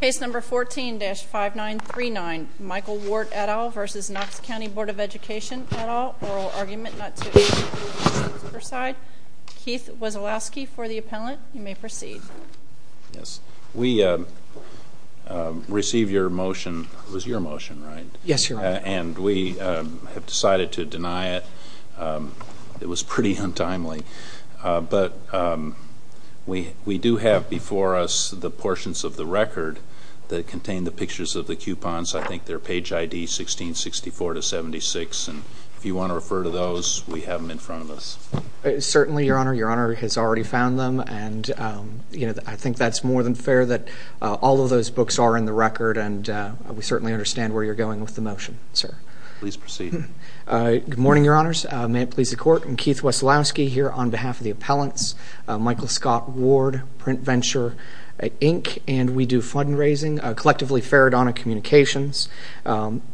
Case number 14-5939. Michael Ward et al. v. Knox County Board of Education et al. Oral argument not to proceed. Keith Wasielowski for the appellant. You may proceed. We received your motion. It was your motion, right? Yes, Your Honor. And we have decided to deny it. It was pretty untimely. But we do have before us the portions of the record that contain the pictures of the coupons. I think they're page ID 1664-76. And if you want to refer to those, we have them in front of us. Certainly, Your Honor. Your Honor has already found them. And I think that's more than fair that all of those books are in the record. And we certainly understand where you're going with the motion, sir. Please proceed. Good morning, Your Honors. May it please the Court. I'm Keith Wasielowski here on behalf of the appellants. Michael Scott Ward, Print Venture, Inc. And we do fundraising, collectively Faradona Communications.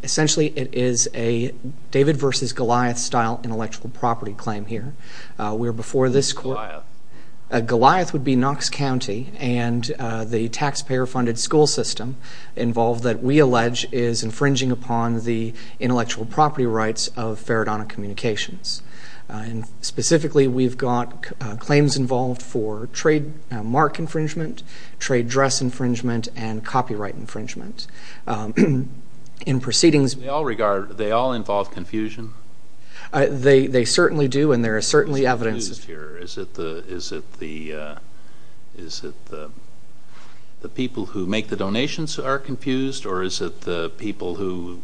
Essentially, it is a David v. Goliath-style intellectual property claim here. Goliath. Goliath would be Knox County. And the taxpayer-funded school system involved that we allege is infringing upon the intellectual property rights of Faradona Communications. And specifically, we've got claims involved for trademark infringement, trade dress infringement, and copyright infringement. In proceedings... Do they all involve confusion? They certainly do, and there is certainly evidence... Is it the people who make the donations who are confused? Or is it the people who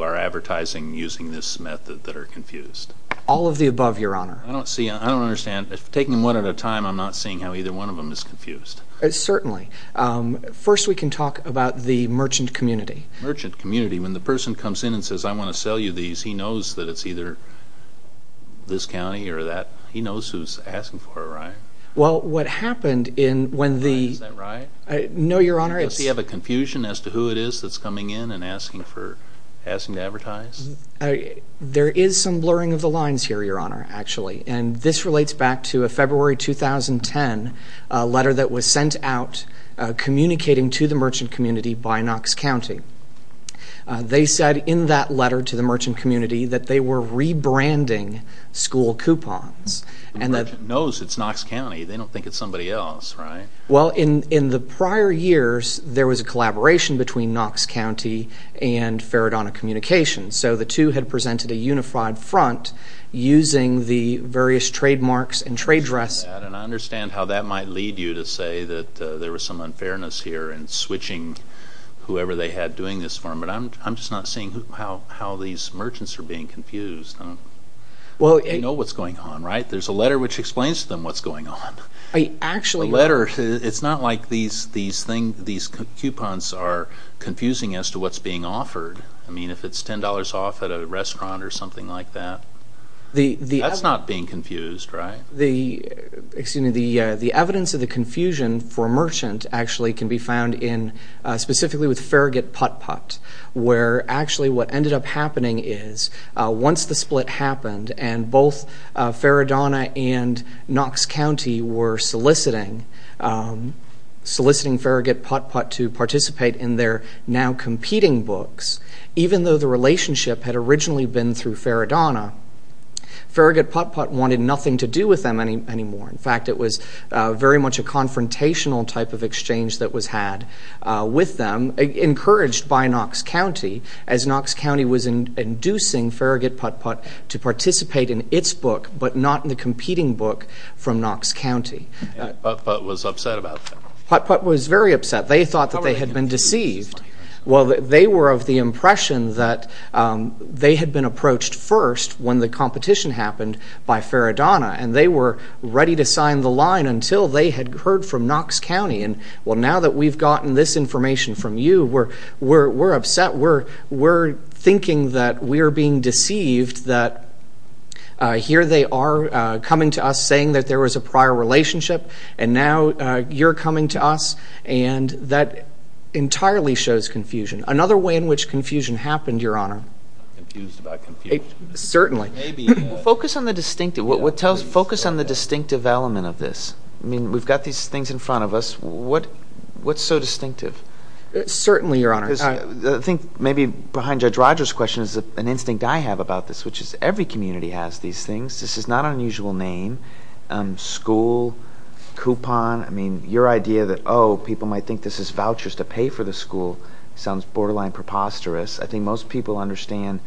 are advertising using this method that are confused? All of the above, Your Honor. I don't see... I don't understand. Taking them one at a time, I'm not seeing how either one of them is confused. Certainly. First, we can talk about the merchant community. Merchant community. When the person comes in and says, I want to sell you these, he knows that it's either this county or that... He knows who's asking for it, right? Well, what happened in when the... Is that right? No, Your Honor, it's... Does he have a confusion as to who it is that's coming in and asking to advertise? There is some blurring of the lines here, Your Honor, actually. And this relates back to a February 2010 letter that was sent out communicating to the merchant community by Knox County. They said in that letter to the merchant community that they were rebranding school coupons. The merchant knows it's Knox County. They don't think it's somebody else, right? Well, in the prior years, there was a collaboration between Knox County and Faradona Communications. So the two had presented a unified front using the various trademarks and trade dress. And I understand how that might lead you to say that there was some unfairness here in switching whoever they had doing this for them. But I'm just not seeing how these merchants are being confused. You know what's going on, right? There's a letter which explains to them what's going on. Actually... A letter. It's not like these coupons are confusing as to what's being offered. I mean, if it's $10 off at a restaurant or something like that, that's not being confused, right? The evidence of the confusion for a merchant actually can be found specifically with Farragut Putt-Putt, where actually what ended up happening is once the split happened, and both Faradona and Knox County were soliciting Farragut Putt-Putt to participate in their now competing books, even though the relationship had originally been through Faradona, Farragut Putt-Putt wanted nothing to do with them anymore. In fact, it was very much a confrontational type of exchange that was had with them, encouraged by Knox County, as Knox County was inducing Farragut Putt-Putt to participate in its book but not in the competing book from Knox County. And Putt-Putt was upset about that. Putt-Putt was very upset. They thought that they had been deceived. Well, they were of the impression that they had been approached first when the competition happened by Faradona, and they were ready to sign the line until they had heard from Knox County. And, well, now that we've gotten this information from you, we're upset. We're thinking that we are being deceived, that here they are coming to us saying that there was a prior relationship, and now you're coming to us, and that entirely shows confusion. Another way in which confusion happened, Your Honor. I'm not confused about confusion. Certainly. Focus on the distinctive. Focus on the distinctive element of this. I mean, we've got these things in front of us. What's so distinctive? Certainly, Your Honor. I think maybe behind Judge Rogers' question is an instinct I have about this, which is every community has these things. This is not an unusual name, school, coupon. I mean, your idea that, oh, people might think this is vouchers to pay for the school sounds borderline preposterous. I think most people understand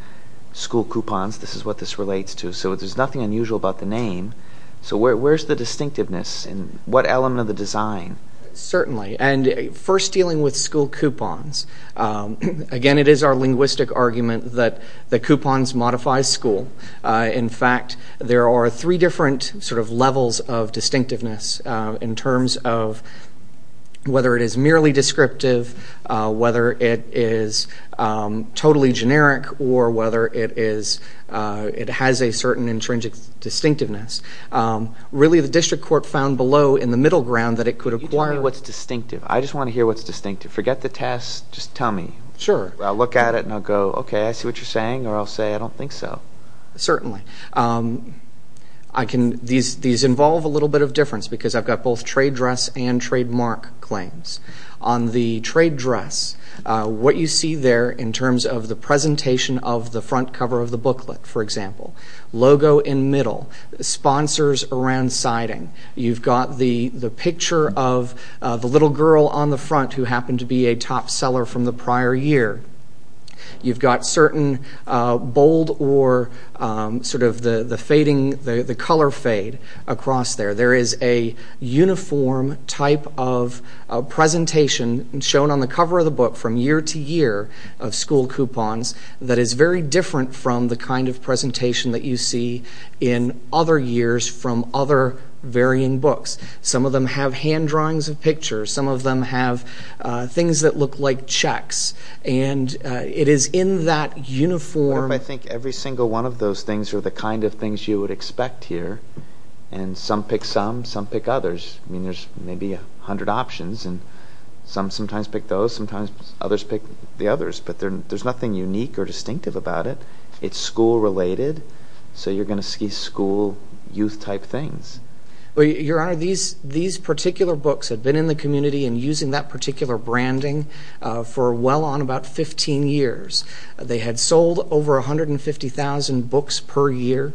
school coupons. This is what this relates to. So there's nothing unusual about the name. So where's the distinctiveness? What element of the design? Certainly. And first, dealing with school coupons. Again, it is our linguistic argument that the coupons modify school. In fact, there are three different sort of levels of distinctiveness in terms of whether it is merely descriptive, whether it is totally generic, or whether it has a certain intrinsic distinctiveness. Really, the district court found below in the middle ground that it could acquire. You tell me what's distinctive. I just want to hear what's distinctive. Forget the test. Just tell me. Sure. I'll look at it and I'll go, okay, I see what you're saying, or I'll say I don't think so. Certainly. These involve a little bit of difference because I've got both trade dress and trademark claims. On the trade dress, what you see there in terms of the presentation of the front cover of the booklet, for example, logo in middle, sponsors around siding, you've got the picture of the little girl on the front who happened to be a top seller from the prior year. You've got certain bold or sort of the color fade across there. There is a uniform type of presentation shown on the cover of the book from year to year of school coupons that is very different from the kind of presentation that you see in other years from other varying books. Some of them have hand drawings of pictures. Some of them have things that look like checks. It is in that uniform. I think every single one of those things are the kind of things you would expect here. Some pick some. Some pick others. There's maybe a hundred options. Some sometimes pick those. Sometimes others pick the others. But there's nothing unique or distinctive about it. It's school related, so you're going to see school youth type things. Your Honor, these particular books have been in the community and using that particular branding for well on about 15 years. They had sold over 150,000 books per year.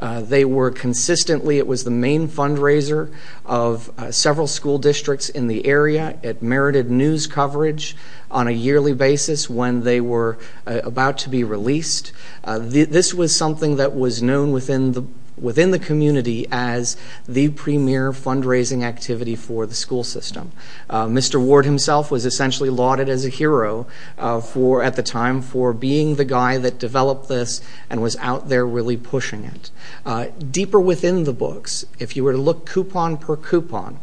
They were consistently, it was the main fundraiser of several school districts in the area. It merited news coverage on a yearly basis when they were about to be released. This was something that was known within the community as the premier fundraising activity for the school system. Mr. Ward himself was essentially lauded as a hero at the time for being the guy that developed this and was out there really pushing it. Deeper within the books, if you were to look coupon per coupon,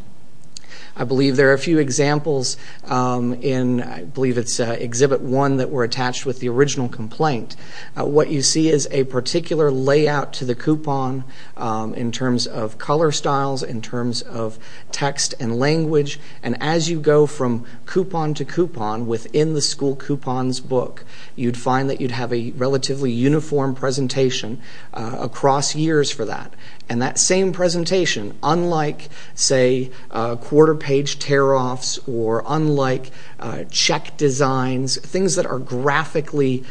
I believe there are a few examples in, I believe it's exhibit one that were attached with the original complaint. What you see is a particular layout to the coupon in terms of color styles, in terms of text and language. And as you go from coupon to coupon within the school coupons book, you'd find that you'd have a relatively uniform presentation across years for that. And that same presentation, unlike, say, quarter page tear-offs or unlike check designs, things that are graphically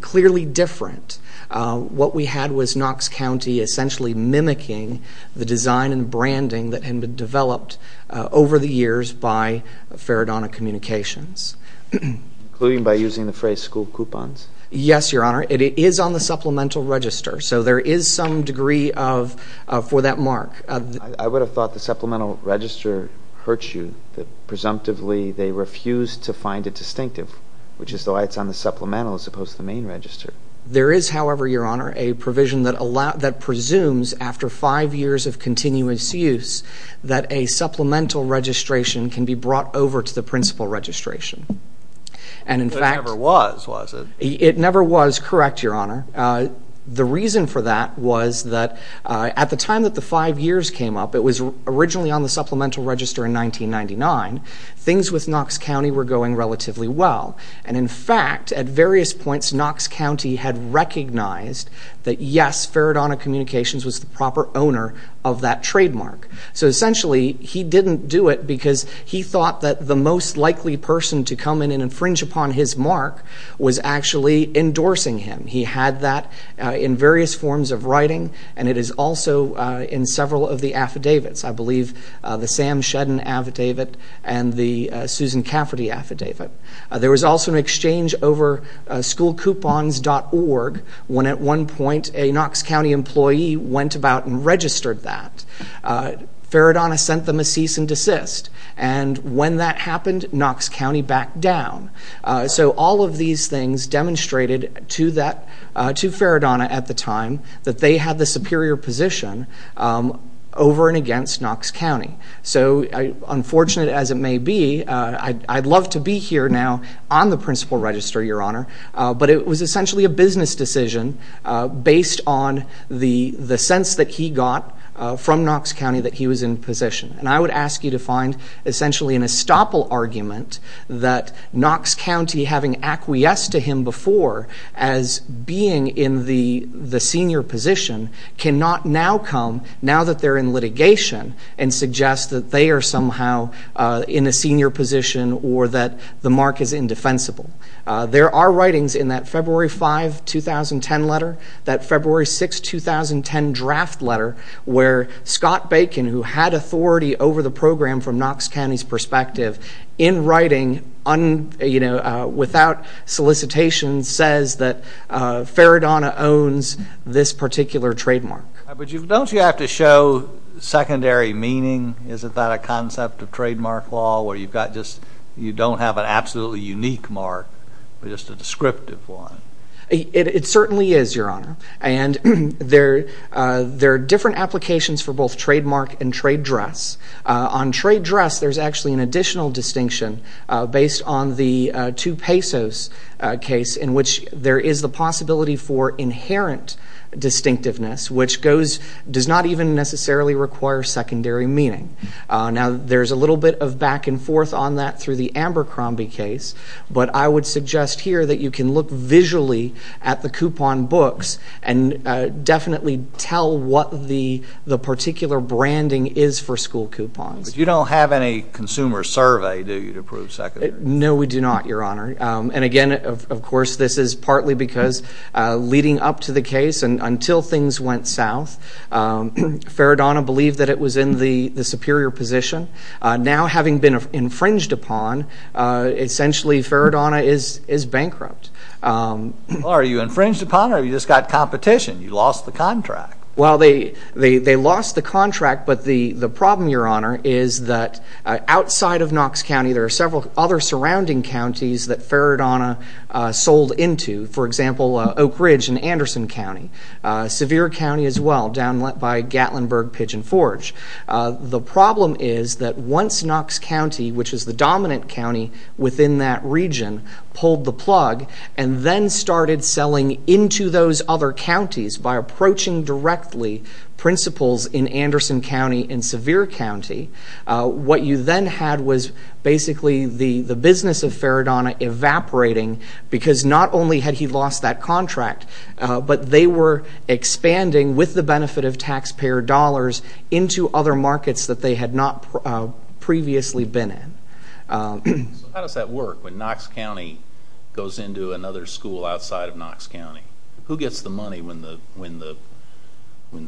clearly different, what we had was Knox County essentially mimicking the design and branding that had been developed over the years by Faradona Communications. Including by using the phrase school coupons? Yes, Your Honor. It is on the supplemental register, so there is some degree of, for that mark. I would have thought the supplemental register hurts you, that presumptively they refused to find it distinctive, which is why it's on the supplemental as opposed to the main register. There is, however, Your Honor, a provision that presumes after five years of continuous use that a supplemental registration can be brought over to the principal registration. It never was, was it? It never was, correct, Your Honor. The reason for that was that at the time that the five years came up, it was originally on the supplemental register in 1999. Things with Knox County were going relatively well. In fact, at various points, Knox County had recognized that, yes, Faradona Communications was the proper owner of that trademark. Essentially, he didn't do it because he thought that the most likely person to come in and infringe upon his mark was actually endorsing him. He had that in various forms of writing, and it is also in several of the affidavits. I believe the Sam Shedden affidavit and the Susan Cafferty affidavit. There was also an exchange over schoolcoupons.org when at one point a Knox County employee went about and registered that. Faradona sent them a cease and desist, and when that happened, Knox County backed down. So all of these things demonstrated to Faradona at the time that they had the superior position over and against Knox County. Unfortunate as it may be, I'd love to be here now on the principal register, Your Honor, but it was essentially a business decision based on the sense that he got from Knox County that he was in position. I would ask you to find essentially an estoppel argument that Knox County, having acquiesced to him before as being in the senior position, cannot now come, now that they're in litigation, and suggest that they are somehow in a senior position or that the mark is indefensible. There are writings in that February 5, 2010 letter, that February 6, 2010 draft letter, where Scott Bacon, who had authority over the program from Knox County's perspective, in writing, without solicitation, says that Faradona owns this particular trademark. But don't you have to show secondary meaning? Isn't that a concept of trademark law, where you don't have an absolutely unique mark, but just a descriptive one? It certainly is, Your Honor, and there are different applications for both trademark and trade dress. On trade dress, there's actually an additional distinction based on the 2 pesos case, in which there is the possibility for inherent distinctiveness, which does not even necessarily require secondary meaning. Now, there's a little bit of back and forth on that through the Amber Crombie case, but I would suggest here that you can look visually at the coupon books and definitely tell what the particular branding is for school coupons. But you don't have any consumer survey, do you, to prove secondary? No, we do not, Your Honor. And again, of course, this is partly because leading up to the case and until things went south, Faradona believed that it was in the superior position. Now, having been infringed upon, essentially Faradona is bankrupt. Are you infringed upon or have you just got competition? You lost the contract. Well, they lost the contract, but the problem, Your Honor, is that outside of Knox County, there are several other surrounding counties that Faradona sold into, for example, Oak Ridge and Anderson County, Sevier County as well, down by Gatlinburg Pigeon Forge. The problem is that once Knox County, which is the dominant county within that region, pulled the plug and then started selling into those other counties by approaching directly principals in Anderson County and Sevier County, what you then had was basically the business of Faradona evaporating because not only had he lost that contract, but they were expanding with the benefit of taxpayer dollars into other markets that they had not previously been in. So how does that work when Knox County goes into another school outside of Knox County? Who gets the money when the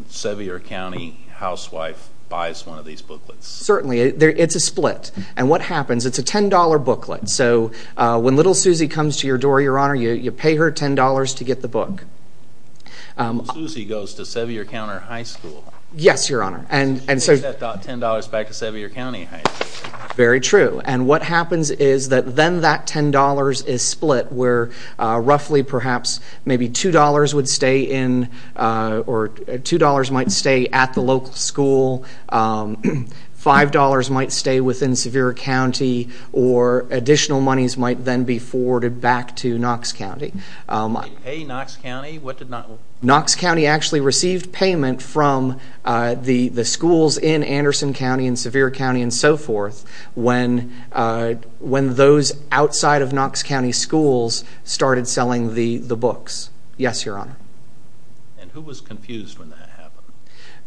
Sevier County housewife buys one of these booklets? Certainly, it's a split. And what happens, it's a $10 booklet. So when Little Susie comes to your door, Your Honor, you pay her $10 to get the book. Little Susie goes to Sevier County High School. Yes, Your Honor. She takes that $10 back to Sevier County High School. Very true. And what happens is that then that $10 is split where roughly perhaps maybe $2 might stay at the local school, $5 might stay within Sevier County, or additional monies might then be forwarded back to Knox County. They pay Knox County? Knox County actually received payment from the schools in Anderson County and Sevier County and so forth when those outside of Knox County schools started selling the books. Yes, Your Honor. And who was confused when that happened?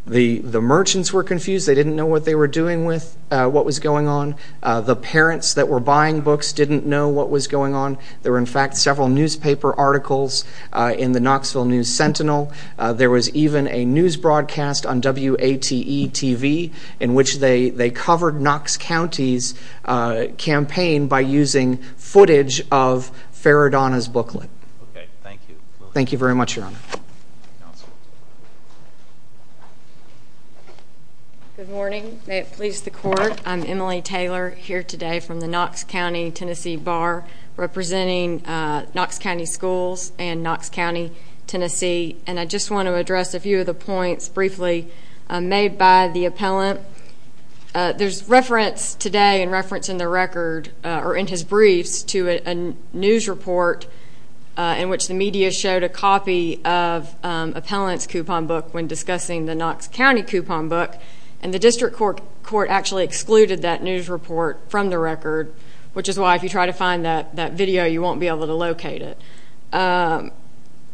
The merchants were confused. They didn't know what they were doing with what was going on. The parents that were buying books didn't know what was going on. There were, in fact, several newspaper articles in the Knoxville News Sentinel. There was even a news broadcast on WATE-TV in which they covered Knox County's campaign by using footage of Faradana's booklet. Okay. Thank you. Thank you very much, Your Honor. Good morning. May it please the Court. I'm Emily Taylor, here today from the Knox County, Tennessee, Bar, representing Knox County Schools and Knox County, Tennessee. And I just want to address a few of the points briefly made by the appellant. There's reference today and reference in the record or in his briefs to a news report in which the media showed a copy of appellant's coupon book when discussing the Knox County coupon book, and the district court actually excluded that news report from the record, which is why if you try to find that video, you won't be able to locate it.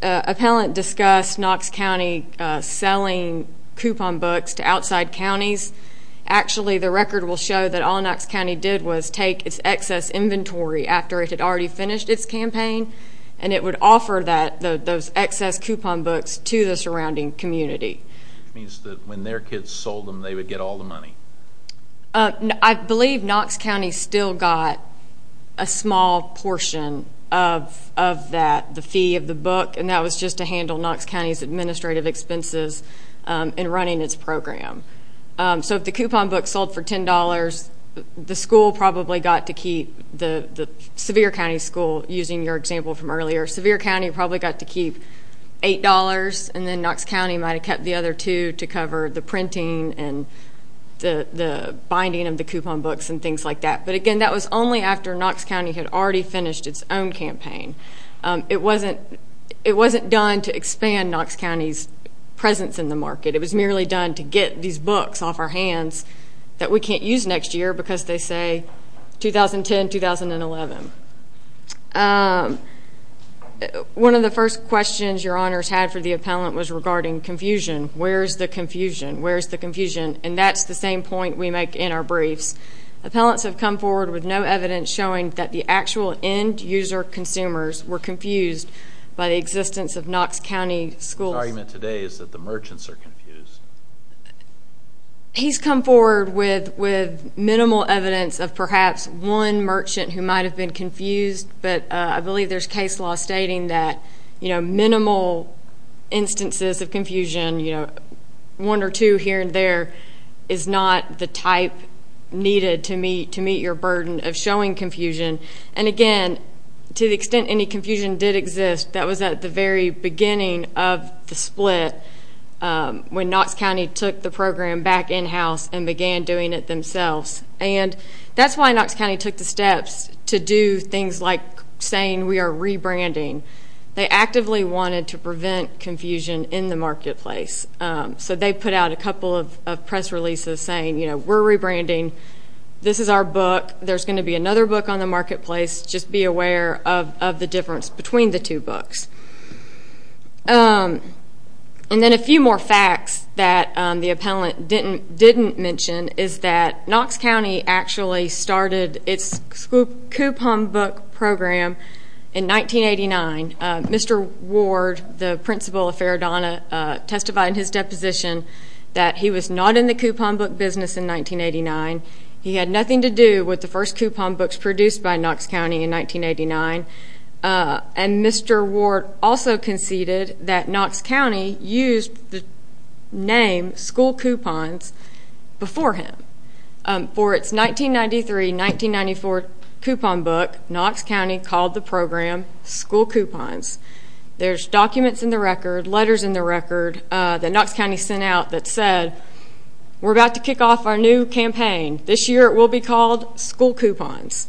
Appellant discussed Knox County selling coupon books to outside counties. Actually, the record will show that all Knox County did was take its excess inventory after it had already finished its campaign, and it would offer those excess coupon books to the surrounding community. Which means that when their kids sold them, they would get all the money. I believe Knox County still got a small portion of that, the fee of the book, and that was just to handle Knox County's administrative expenses in running its program. So if the coupon book sold for $10, the school probably got to keep, the Sevier County school, using your example from earlier, Sevier County probably got to keep $8, and then Knox County might have kept the other two to cover the printing and the binding of the coupon books and things like that. But, again, that was only after Knox County had already finished its own campaign. It wasn't done to expand Knox County's presence in the market. It was merely done to get these books off our hands that we can't use next year because they say 2010-2011. One of the first questions your Honors had for the Appellant was regarding confusion. Where's the confusion? Where's the confusion? And that's the same point we make in our briefs. Appellants have come forward with no evidence showing that the actual end-user consumers were confused by the existence of Knox County schools. The argument today is that the merchants are confused. He's come forward with minimal evidence of perhaps one merchant who might have been confused, but I believe there's case law stating that minimal instances of confusion, one or two here and there, is not the type needed to meet your burden of showing confusion. And, again, to the extent any confusion did exist, that was at the very beginning of the split when Knox County took the program back in-house and began doing it themselves. And that's why Knox County took the steps to do things like saying we are rebranding. They actively wanted to prevent confusion in the marketplace, so they put out a couple of press releases saying, you know, we're rebranding. This is our book. There's going to be another book on the marketplace. Just be aware of the difference between the two books. And then a few more facts that the appellant didn't mention is that Knox County actually started its coupon book program in 1989. Mr. Ward, the principal of Faradona, testified in his deposition that he was not in the coupon book business in 1989. He had nothing to do with the first coupon books produced by Knox County in 1989. And Mr. Ward also conceded that Knox County used the name School Coupons before him. For its 1993-1994 coupon book, Knox County called the program School Coupons. There's documents in the record, letters in the record, that Knox County sent out that said we're about to kick off our new campaign. This year it will be called School Coupons.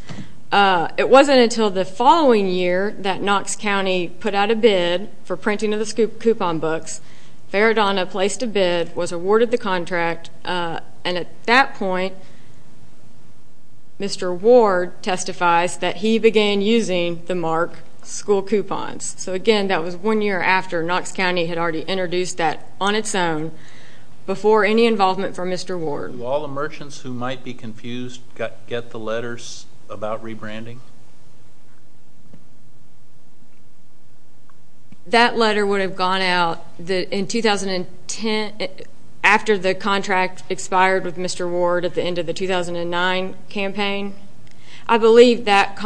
It wasn't until the following year that Knox County put out a bid for printing of the coupon books. Faradona placed a bid, was awarded the contract, and at that point Mr. Ward testifies that he began using the mark School Coupons. So, again, that was one year after Knox County had already introduced that on its own before any involvement from Mr. Ward. Do all the merchants who might be confused get the letters about rebranding? That letter would have gone out in 2010, after the contract expired with Mr. Ward at the end of the 2009 campaign. I believe that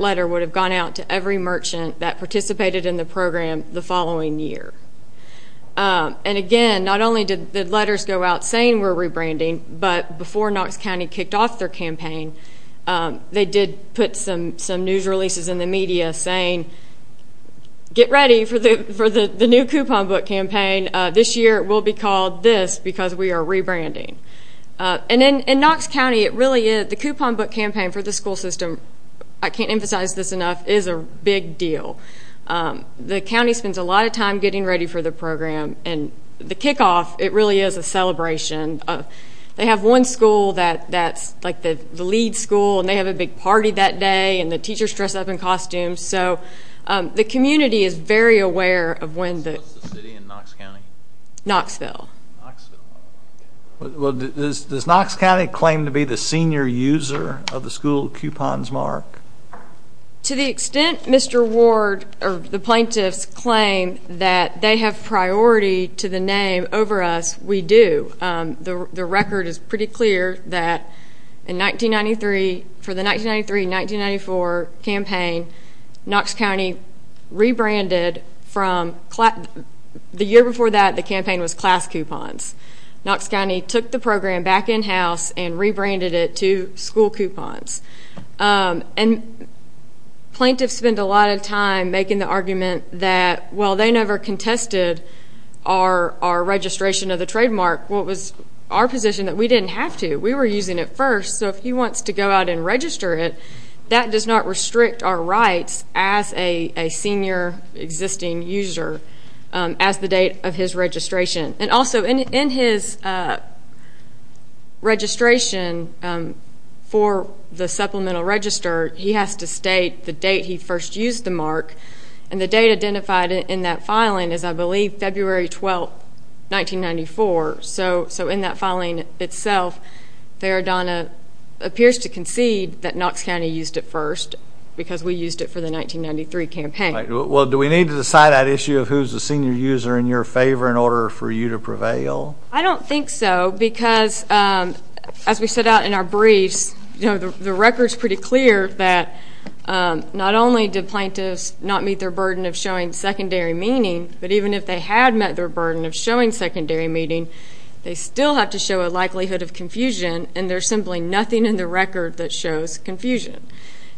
letter would have gone out to every merchant that participated in the program the following year. And, again, not only did the letters go out saying we're rebranding, but before Knox County kicked off their campaign, they did put some news releases in the media saying, get ready for the new coupon book campaign. This year it will be called this because we are rebranding. And in Knox County, the coupon book campaign for the school system, I can't emphasize this enough, is a big deal. The county spends a lot of time getting ready for the program, and the kickoff, it really is a celebration. They have one school that's like the lead school, and they have a big party that day, and the teachers dress up in costumes. So the community is very aware of when the… What's the city in Knox County? Knoxville. Does Knox County claim to be the senior user of the school coupons, Mark? To the extent Mr. Ward or the plaintiffs claim that they have priority to the name over us, we do. The record is pretty clear that in 1993, for the 1993-1994 campaign, Knox County rebranded from… The year before that, the campaign was class coupons. Knox County took the program back in-house and rebranded it to school coupons. And plaintiffs spend a lot of time making the argument that, well, they never contested our registration of the trademark. Well, it was our position that we didn't have to. We were using it first, so if he wants to go out and register it, that does not restrict our rights as a senior existing user as the date of his registration. And also, in his registration for the supplemental register, he has to state the date he first used the mark, and the date identified in that filing is, I believe, February 12, 1994. So in that filing itself, Faradana appears to concede that Knox County used it first because we used it for the 1993 campaign. Well, do we need to decide that issue of who's a senior user in your favor in order for you to prevail? I don't think so because, as we set out in our briefs, the record's pretty clear that not only did plaintiffs not meet their burden of showing secondary meaning, but even if they had met their burden of showing secondary meaning, they still have to show a likelihood of confusion, and there's simply nothing in the record that shows confusion.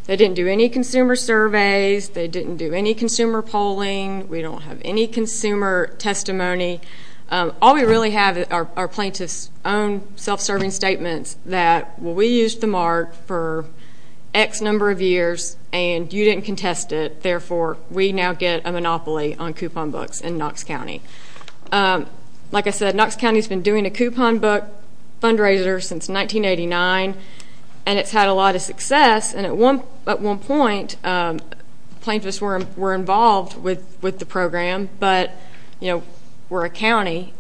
They didn't do any consumer surveys. They didn't do any consumer polling. We don't have any consumer testimony. All we really have are plaintiffs' own self-serving statements that, well, we used the mark for X number of years, and you didn't contest it. Therefore, we now get a monopoly on coupon books in Knox County. Like I said, Knox County's been doing a coupon book fundraiser since 1989, and it's had a lot of success. And at one point, plaintiffs were involved with the program, but, you know, we're a county.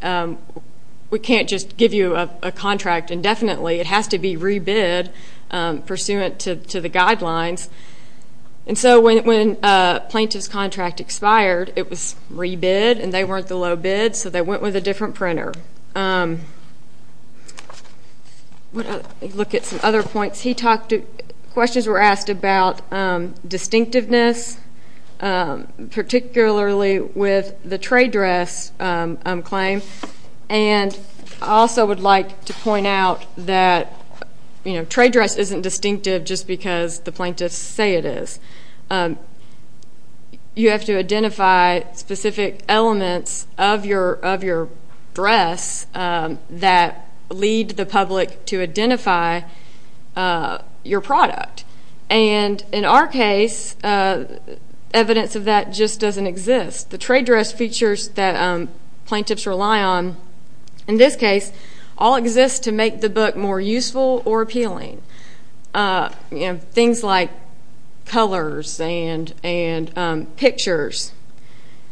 We can't just give you a contract indefinitely. It has to be rebid pursuant to the guidelines. And so when a plaintiff's contract expired, it was rebid, and they weren't the low bid, so they went with a different printer. Let's look at some other points. Questions were asked about distinctiveness, particularly with the trade dress claim, and I also would like to point out that, you know, trade dress isn't distinctive just because the plaintiffs say it is. You have to identify specific elements of your dress that lead the public to identify your product. And in our case, evidence of that just doesn't exist. The trade dress features that plaintiffs rely on in this case all exist to make the book more useful or appealing. You know, things like colors and pictures,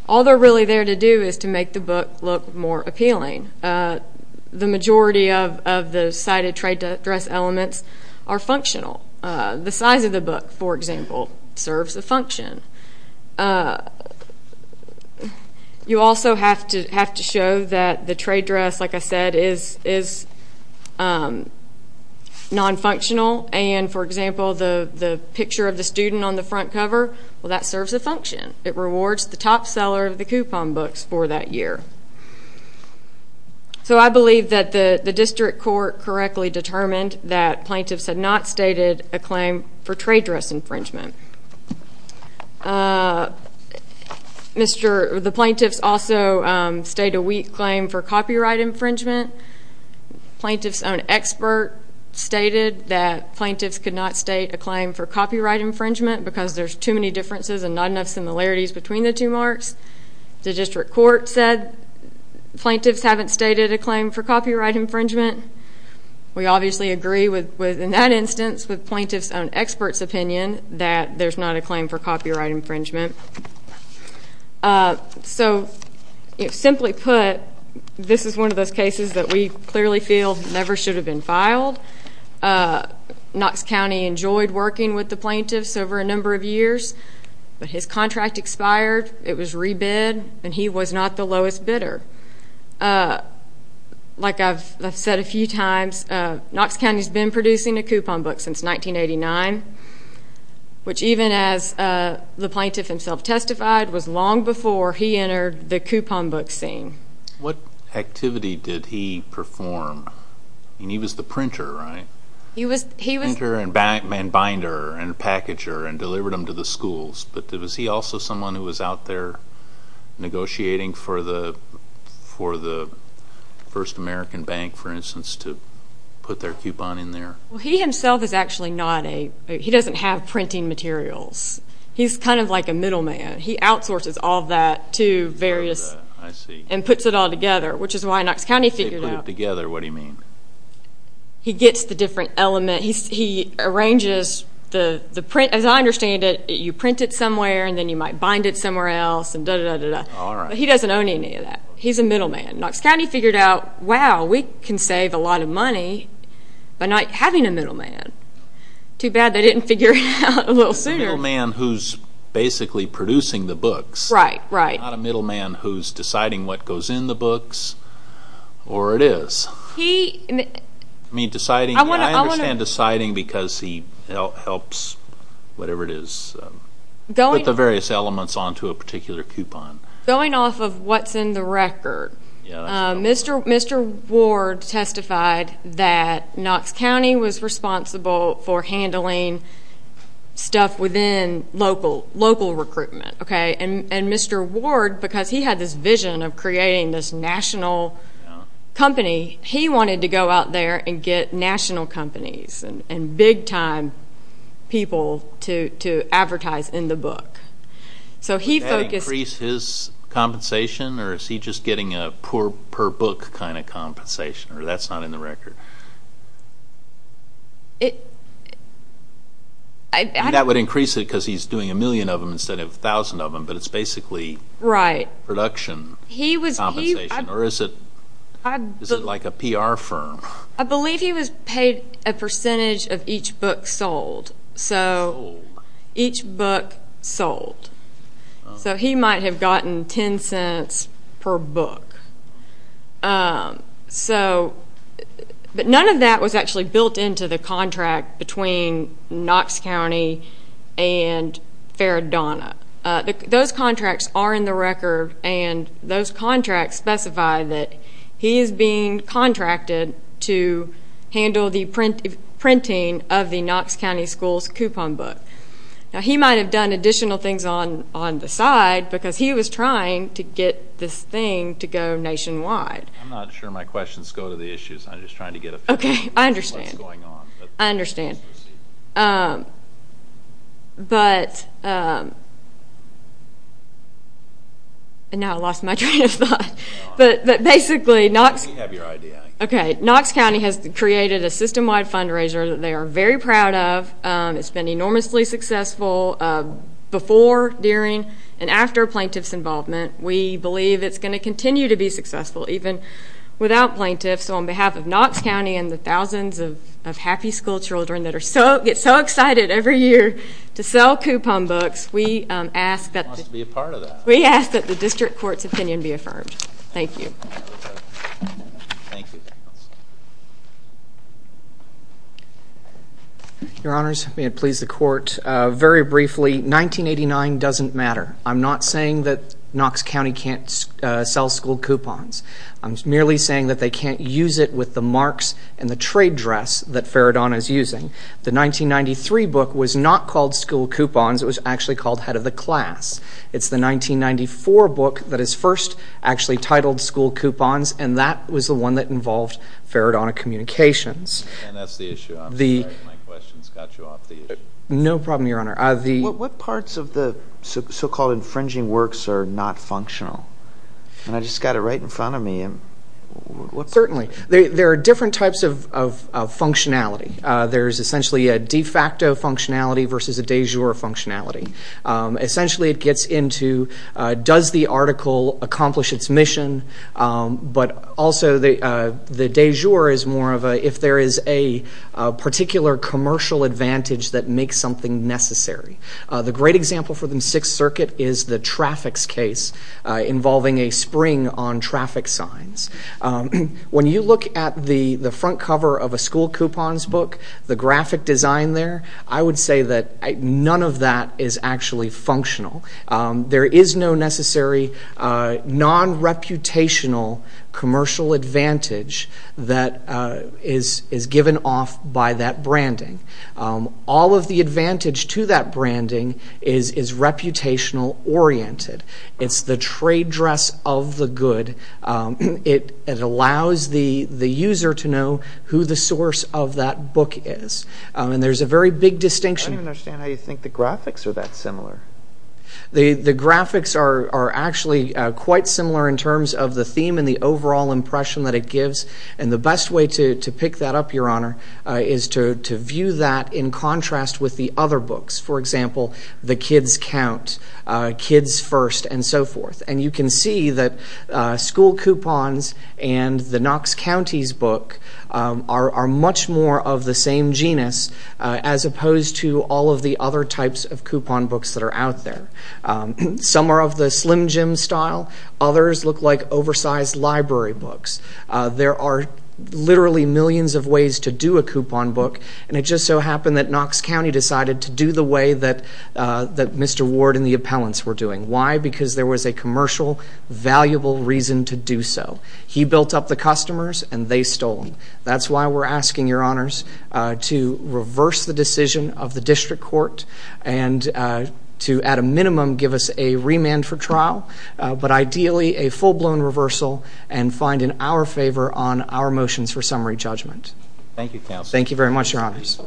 all they're really there to do is to make the book look more appealing. The majority of the cited trade dress elements are functional. The size of the book, for example, serves a function. You also have to show that the trade dress, like I said, is nonfunctional, and, for example, the picture of the student on the front cover, well, that serves a function. It rewards the top seller of the coupon books for that year. So I believe that the district court correctly determined that plaintiffs had not stated a claim for trade dress infringement. The plaintiffs also state a weak claim for copyright infringement. Plaintiffs' own expert stated that plaintiffs could not state a claim for copyright infringement because there's too many differences and not enough similarities between the two marks. The district court said plaintiffs haven't stated a claim for copyright infringement. We obviously agree with, in that instance, with plaintiffs' own expert's opinion that there's not a claim for copyright infringement. So, simply put, this is one of those cases that we clearly feel never should have been filed. Knox County enjoyed working with the plaintiffs over a number of years, but his contract expired. It was rebid, and he was not the lowest bidder. Like I've said a few times, Knox County's been producing a coupon book since 1989, which, even as the plaintiff himself testified, was long before he entered the coupon book scene. What activity did he perform? I mean, he was the printer, right? He was the printer and binder and packager and delivered them to the schools, but was he also someone who was out there negotiating for the First American Bank, for instance, to put their coupon in there? Well, he himself is actually not a, he doesn't have printing materials. He's kind of like a middleman. He outsources all that to various, and puts it all together, which is why Knox County figured out. If they put it together, what do you mean? He gets the different element. He arranges the print. As I understand it, you print it somewhere, and then you might bind it somewhere else, and da-da-da-da-da. All right. But he doesn't own any of that. He's a middleman. Knox County figured out, wow, we can save a lot of money by not having a middleman. Too bad they didn't figure it out a little sooner. A middleman who's basically producing the books. Right, right. Not a middleman who's deciding what goes in the books, or it is. You mean deciding? I understand deciding because he helps, whatever it is, put the various elements onto a particular coupon. Going off of what's in the record, Mr. Ward testified that Knox County was responsible for handling stuff within local recruitment. Mr. Ward, because he had this vision of creating this national company, he wanted to go out there and get national companies and big-time people to advertise in the book. Would that increase his compensation, or is he just getting a per-book kind of compensation, or that's not in the record? That would increase it because he's doing a million of them instead of a thousand of them, but it's basically production compensation. Or is it like a PR firm? I believe he was paid a percentage of each book sold. So each book sold. So he might have gotten $0.10 per book. But none of that was actually built into the contract between Knox County and Faradona. Those contracts are in the record, and those contracts specify that he is being contracted to handle the printing of the Knox County Schools coupon book. He might have done additional things on the side because he was trying to get this thing to go nationwide. I'm not sure my questions go to the issues. I'm just trying to get a feel for what's going on. I understand. Now I lost my train of thought. But basically, Knox County has created a system-wide fundraiser that they are very proud of. It's been enormously successful before, during, and after plaintiff's involvement. We believe it's going to continue to be successful even without plaintiffs. So on behalf of Knox County and the thousands of happy school children that get so excited every year to sell coupon books, we ask that the district court's opinion be affirmed. Thank you. Thank you. Your Honors, may it please the Court, very briefly, 1989 doesn't matter. I'm not saying that Knox County can't sell school coupons. I'm merely saying that they can't use it with the marks and the trade dress that Faradona is using. The 1993 book was not called School Coupons. It was actually called Head of the Class. It's the 1994 book that is first actually titled School Coupons, and that was the one that involved Faradona Communications. And that's the issue. I'm sorry if my questions got you off the issue. No problem, Your Honor. What parts of the so-called infringing works are not functional? And I just got it right in front of me. Certainly. There are different types of functionality. There's essentially a de facto functionality versus a de jure functionality. Essentially it gets into does the article accomplish its mission, but also the de jure is more of a if there is a particular commercial advantage that makes something necessary. The great example for the Sixth Circuit is the traffics case involving a spring on traffic signs. When you look at the front cover of a School Coupons book, the graphic design there, I would say that none of that is actually functional. There is no necessary non-reputational commercial advantage that is given off by that branding. All of the advantage to that branding is reputational oriented. It's the trade dress of the good. It allows the user to know who the source of that book is. And there's a very big distinction. I don't even understand how you think the graphics are that similar. The graphics are actually quite similar in terms of the theme and the overall impression that it gives. And the best way to pick that up, Your Honor, is to view that in contrast with the other books. For example, The Kids Count, Kids First, and so forth. And you can see that School Coupons and the Knox County's book are much more of the same genus, as opposed to all of the other types of coupon books that are out there. Some are of the Slim Jim style. Others look like oversized library books. There are literally millions of ways to do a coupon book, and it just so happened that Knox County decided to do the way that Mr. Ward and the appellants were doing. Why? Because there was a commercial, valuable reason to do so. He built up the customers, and they stole them. That's why we're asking, Your Honors, to reverse the decision of the District Court and to, at a minimum, give us a remand for trial, but ideally a full-blown reversal, and find in our favor on our motions for summary judgment. Thank you, Counsel. Thank you very much, Your Honors.